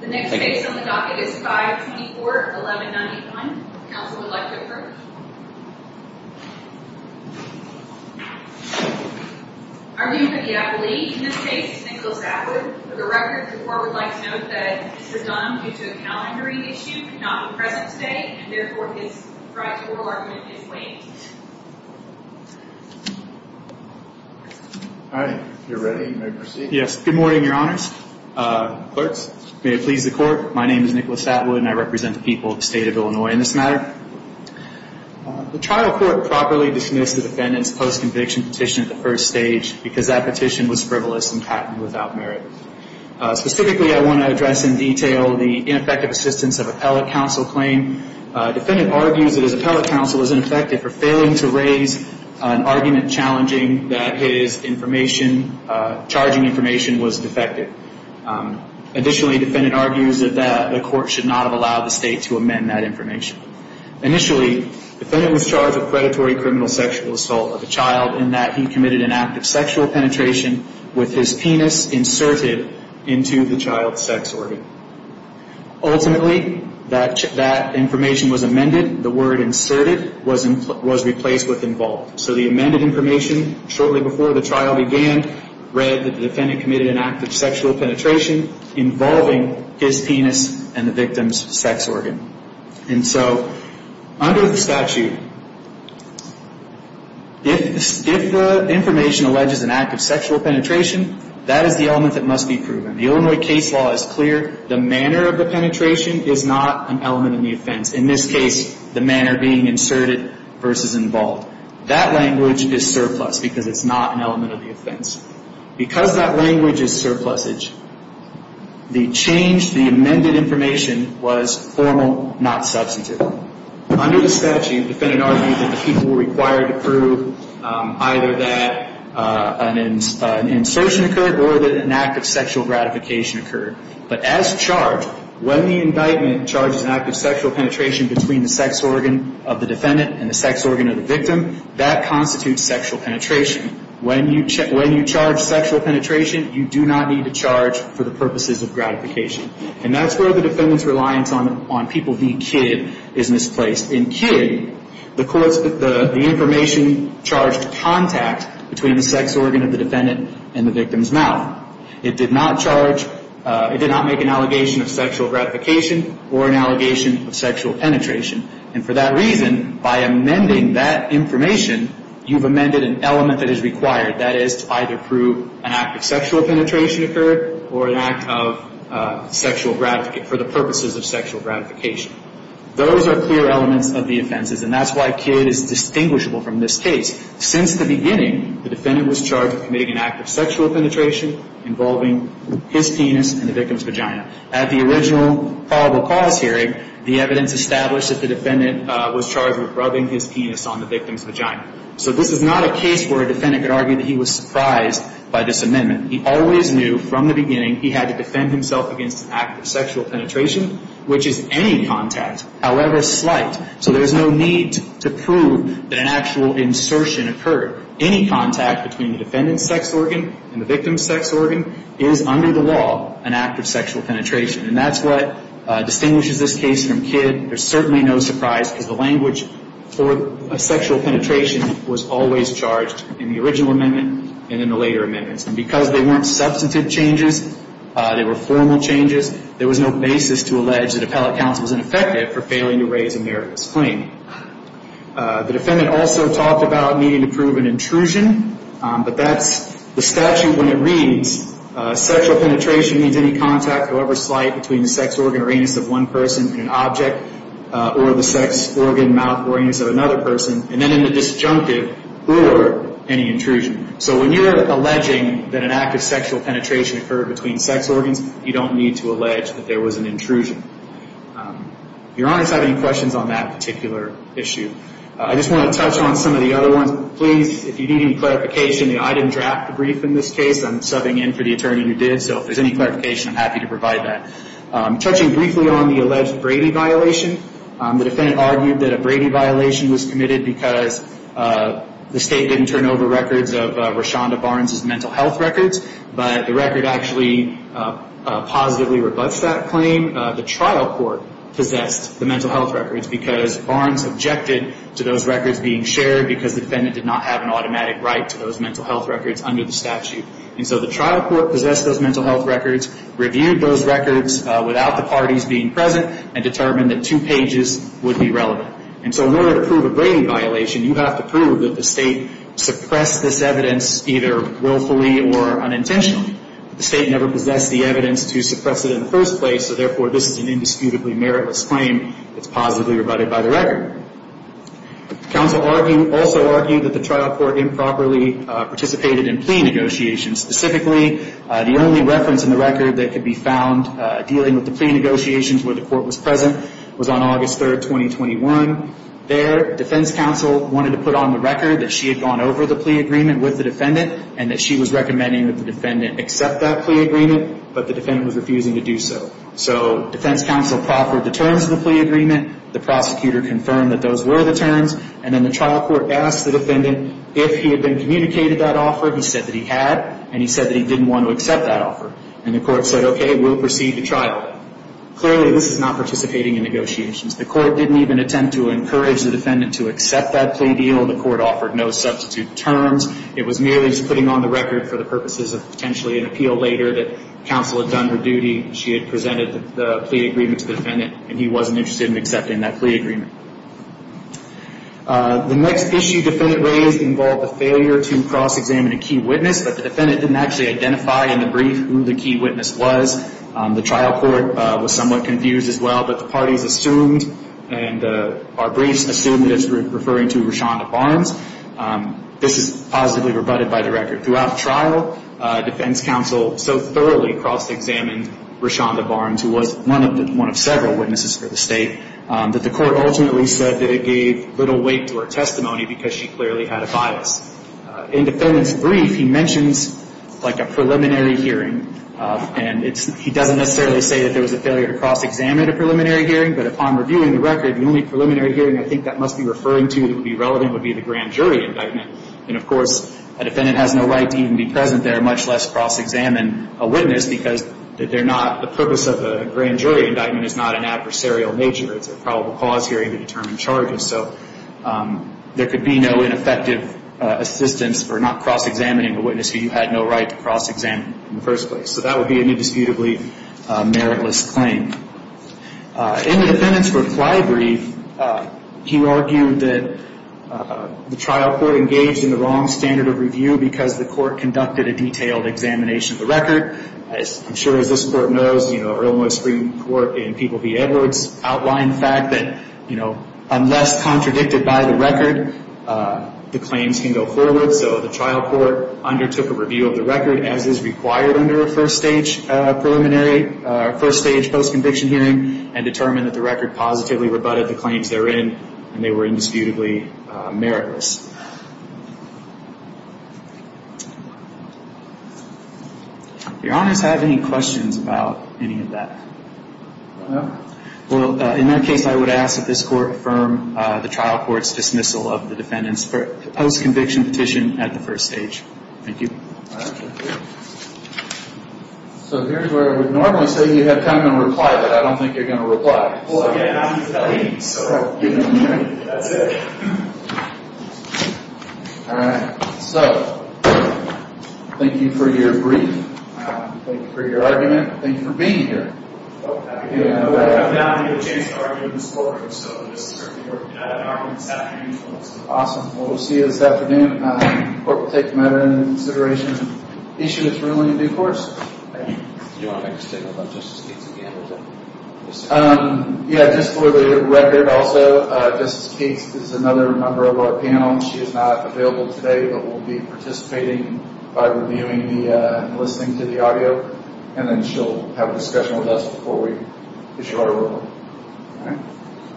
The next case on the docket is 524-1191. Counsel would like to approach. Our new pediatrician in this case is Nicholas Atwood. For the record, the court would like to note that this is done due to a calendaring issue, cannot be present today, and therefore his right to oral argument is waived. All right. If you're ready, you may proceed. Yes. Good morning, Your Honors. Clerks, may it please the court, my name is Nicholas Atwood and I represent the people of the state of Illinois in this matter. The trial court properly dismissed the defendant's post-conviction petition at the first stage because that petition was frivolous and patented without merit. Specifically, I want to address in detail the ineffective assistance of appellate counsel claim. Defendant argues that his appellate counsel was ineffective for failing to raise an argument challenging that his information, charging information, was defective. Additionally, defendant argues that the court should not have allowed the state to amend that information. Initially, defendant was charged with predatory criminal sexual assault of a child in that he committed an act of sexual penetration with his penis inserted into the child's sex organ. Ultimately, that information was amended. The word inserted was replaced with involved. So the amended information shortly before the trial began read that the defendant committed an act of sexual penetration involving his penis and the victim's sex organ. And so under the statute, if the information alleges an act of sexual penetration, that is the element that must be proven. The Illinois case law is clear. The manner of the penetration is not an element of the offense. In this case, the manner being inserted versus involved. That language is surplus because it's not an element of the offense. Because that language is surplusage, the change to the amended information was formal, not substantive. Under the statute, defendant argued that the people were required to prove either that an insertion occurred or that an act of sexual gratification occurred. But as charged, when the indictment charges an act of sexual penetration between the sex organ of the defendant and the sex organ of the victim, that constitutes sexual penetration. When you charge sexual penetration, you do not need to charge for the purposes of gratification. And that's where the defendant's reliance on people being kid is misplaced. In kid, the information charged contact between the sex organ of the defendant and the victim's mouth. It did not charge, it did not make an allegation of sexual gratification or an allegation of sexual penetration. And for that reason, by amending that information, you've amended an element that is required. That is to either prove an act of sexual penetration occurred or an act of sexual gratification, for the purposes of sexual gratification. Those are clear elements of the offenses, and that's why kid is distinguishable from this case. Since the beginning, the defendant was charged with committing an act of sexual penetration involving his penis in the victim's vagina. At the original probable cause hearing, the evidence established that the defendant was charged with rubbing his penis on the victim's vagina. So this is not a case where a defendant could argue that he was surprised by this amendment. He always knew from the beginning he had to defend himself against an act of sexual penetration, which is any contact, however slight. So there's no need to prove that an actual insertion occurred. Any contact between the defendant's sex organ and the victim's sex organ is, under the law, an act of sexual penetration. And that's what distinguishes this case from kid. There's certainly no surprise, because the language for sexual penetration was always charged in the original amendment and in the later amendments. And because they weren't substantive changes, they were formal changes, there was no basis to allege that appellate counsel was ineffective for failing to raise America's claim. The defendant also talked about needing to prove an intrusion, but that's the statute when it reads, sexual penetration means any contact, however slight, between the sex organ or anus of one person and an object, or the sex organ, mouth, or anus of another person, and then in the disjunctive, or any intrusion. So when you're alleging that an act of sexual penetration occurred between sex organs, you don't need to allege that there was an intrusion. Your Honor, do you have any questions on that particular issue? I just want to touch on some of the other ones. Please, if you need any clarification, I didn't draft the brief in this case. I'm subbing in for the attorney who did, so if there's any clarification, I'm happy to provide that. Touching briefly on the alleged Brady violation, the defendant argued that a Brady violation was committed because the State didn't turn over records of Roshonda Barnes' mental health records, but the record actually positively rebutts that claim. The trial court possessed the mental health records because Barnes objected to those records being shared because the defendant did not have an automatic right to those mental health records under the statute. And so the trial court possessed those mental health records, reviewed those records without the parties being present, and determined that two pages would be relevant. And so in order to prove a Brady violation, you have to prove that the State suppressed this evidence either willfully or unintentionally. The State never possessed the evidence to suppress it in the first place, so therefore this is an indisputably meritless claim that's positively rebutted by the record. The counsel also argued that the trial court improperly participated in plea negotiations. Specifically, the only reference in the record that could be found dealing with the plea negotiations where the court was present was on August 3rd, 2021. There, defense counsel wanted to put on the record that she had gone over the plea agreement with the defendant and that she was recommending that the defendant accept that plea agreement, but the defendant was refusing to do so. So defense counsel proffered the terms of the plea agreement. The prosecutor confirmed that those were the terms. And then the trial court asked the defendant if he had been communicated that offer. He said that he had, and he said that he didn't want to accept that offer. And the court said, okay, we'll proceed to trial. Clearly, this is not participating in negotiations. The court didn't even attempt to encourage the defendant to accept that plea deal. The court offered no substitute terms. It was merely just putting on the record for the purposes of potentially an appeal later that counsel had done her duty. She had presented the plea agreement to the defendant, and he wasn't interested in accepting that plea agreement. The next issue defendant raised involved the failure to cross-examine a key witness, but the defendant didn't actually identify in the brief who the key witness was. The trial court was somewhat confused as well, but the parties assumed and our briefs assumed that it was referring to Rashonda Barnes. This is positively rebutted by the record. Throughout the trial, defense counsel so thoroughly cross-examined Rashonda Barnes, who was one of several witnesses for the State, that the court ultimately said that it gave little weight to her testimony because she clearly had a bias. In the defendant's brief, he mentions like a preliminary hearing, and he doesn't necessarily say that there was a failure to cross-examine a preliminary hearing, but upon reviewing the record, the only preliminary hearing I think that must be referring to that would be relevant would be the grand jury indictment. And, of course, a defendant has no right to even be present there, much less cross-examine a witness, because the purpose of a grand jury indictment is not an adversarial nature. It's a probable cause hearing to determine charges. So there could be no ineffective assistance for not cross-examining a witness who you had no right to cross-examine in the first place. So that would be an indisputably meritless claim. In the defendant's reply brief, he argued that the trial court engaged in the wrong standard of review because the court conducted a detailed examination of the record. As I'm sure as this court knows, you know, Earl Moyce Supreme Court and People v. Edwards outlined the fact that, you know, unless contradicted by the record, the claims can go forward. So the trial court undertook a review of the record, as is required under a first-stage post-conviction hearing, and determined that the record positively rebutted the claims therein, and they were indisputably meritless. Do your honors have any questions about any of that? No. Well, in that case, I would ask that this court affirm the trial court's dismissal of the defendant's post-conviction petition at the first stage. Thank you. So here's where I would normally say you have time to reply, but I don't think you're going to reply. Well, again, I'm the attorney, so, you know, that's it. All right. So, thank you for your brief. Thank you for your argument. Thank you for being here. Well, I have not had a chance to argue in this courtroom, so this is certainly worth it. I have an argument this afternoon. Awesome. Well, we'll see you this afternoon. The court will take the matter into consideration. The issue is ruling in due course. Do you want to make a statement about Justice Keats again? Yeah, just for the record also, Justice Keats is another member of our panel. She is not available today, but will be participating by reviewing and listening to the audio, and then she'll have a discussion with us before we issue our ruling. All right.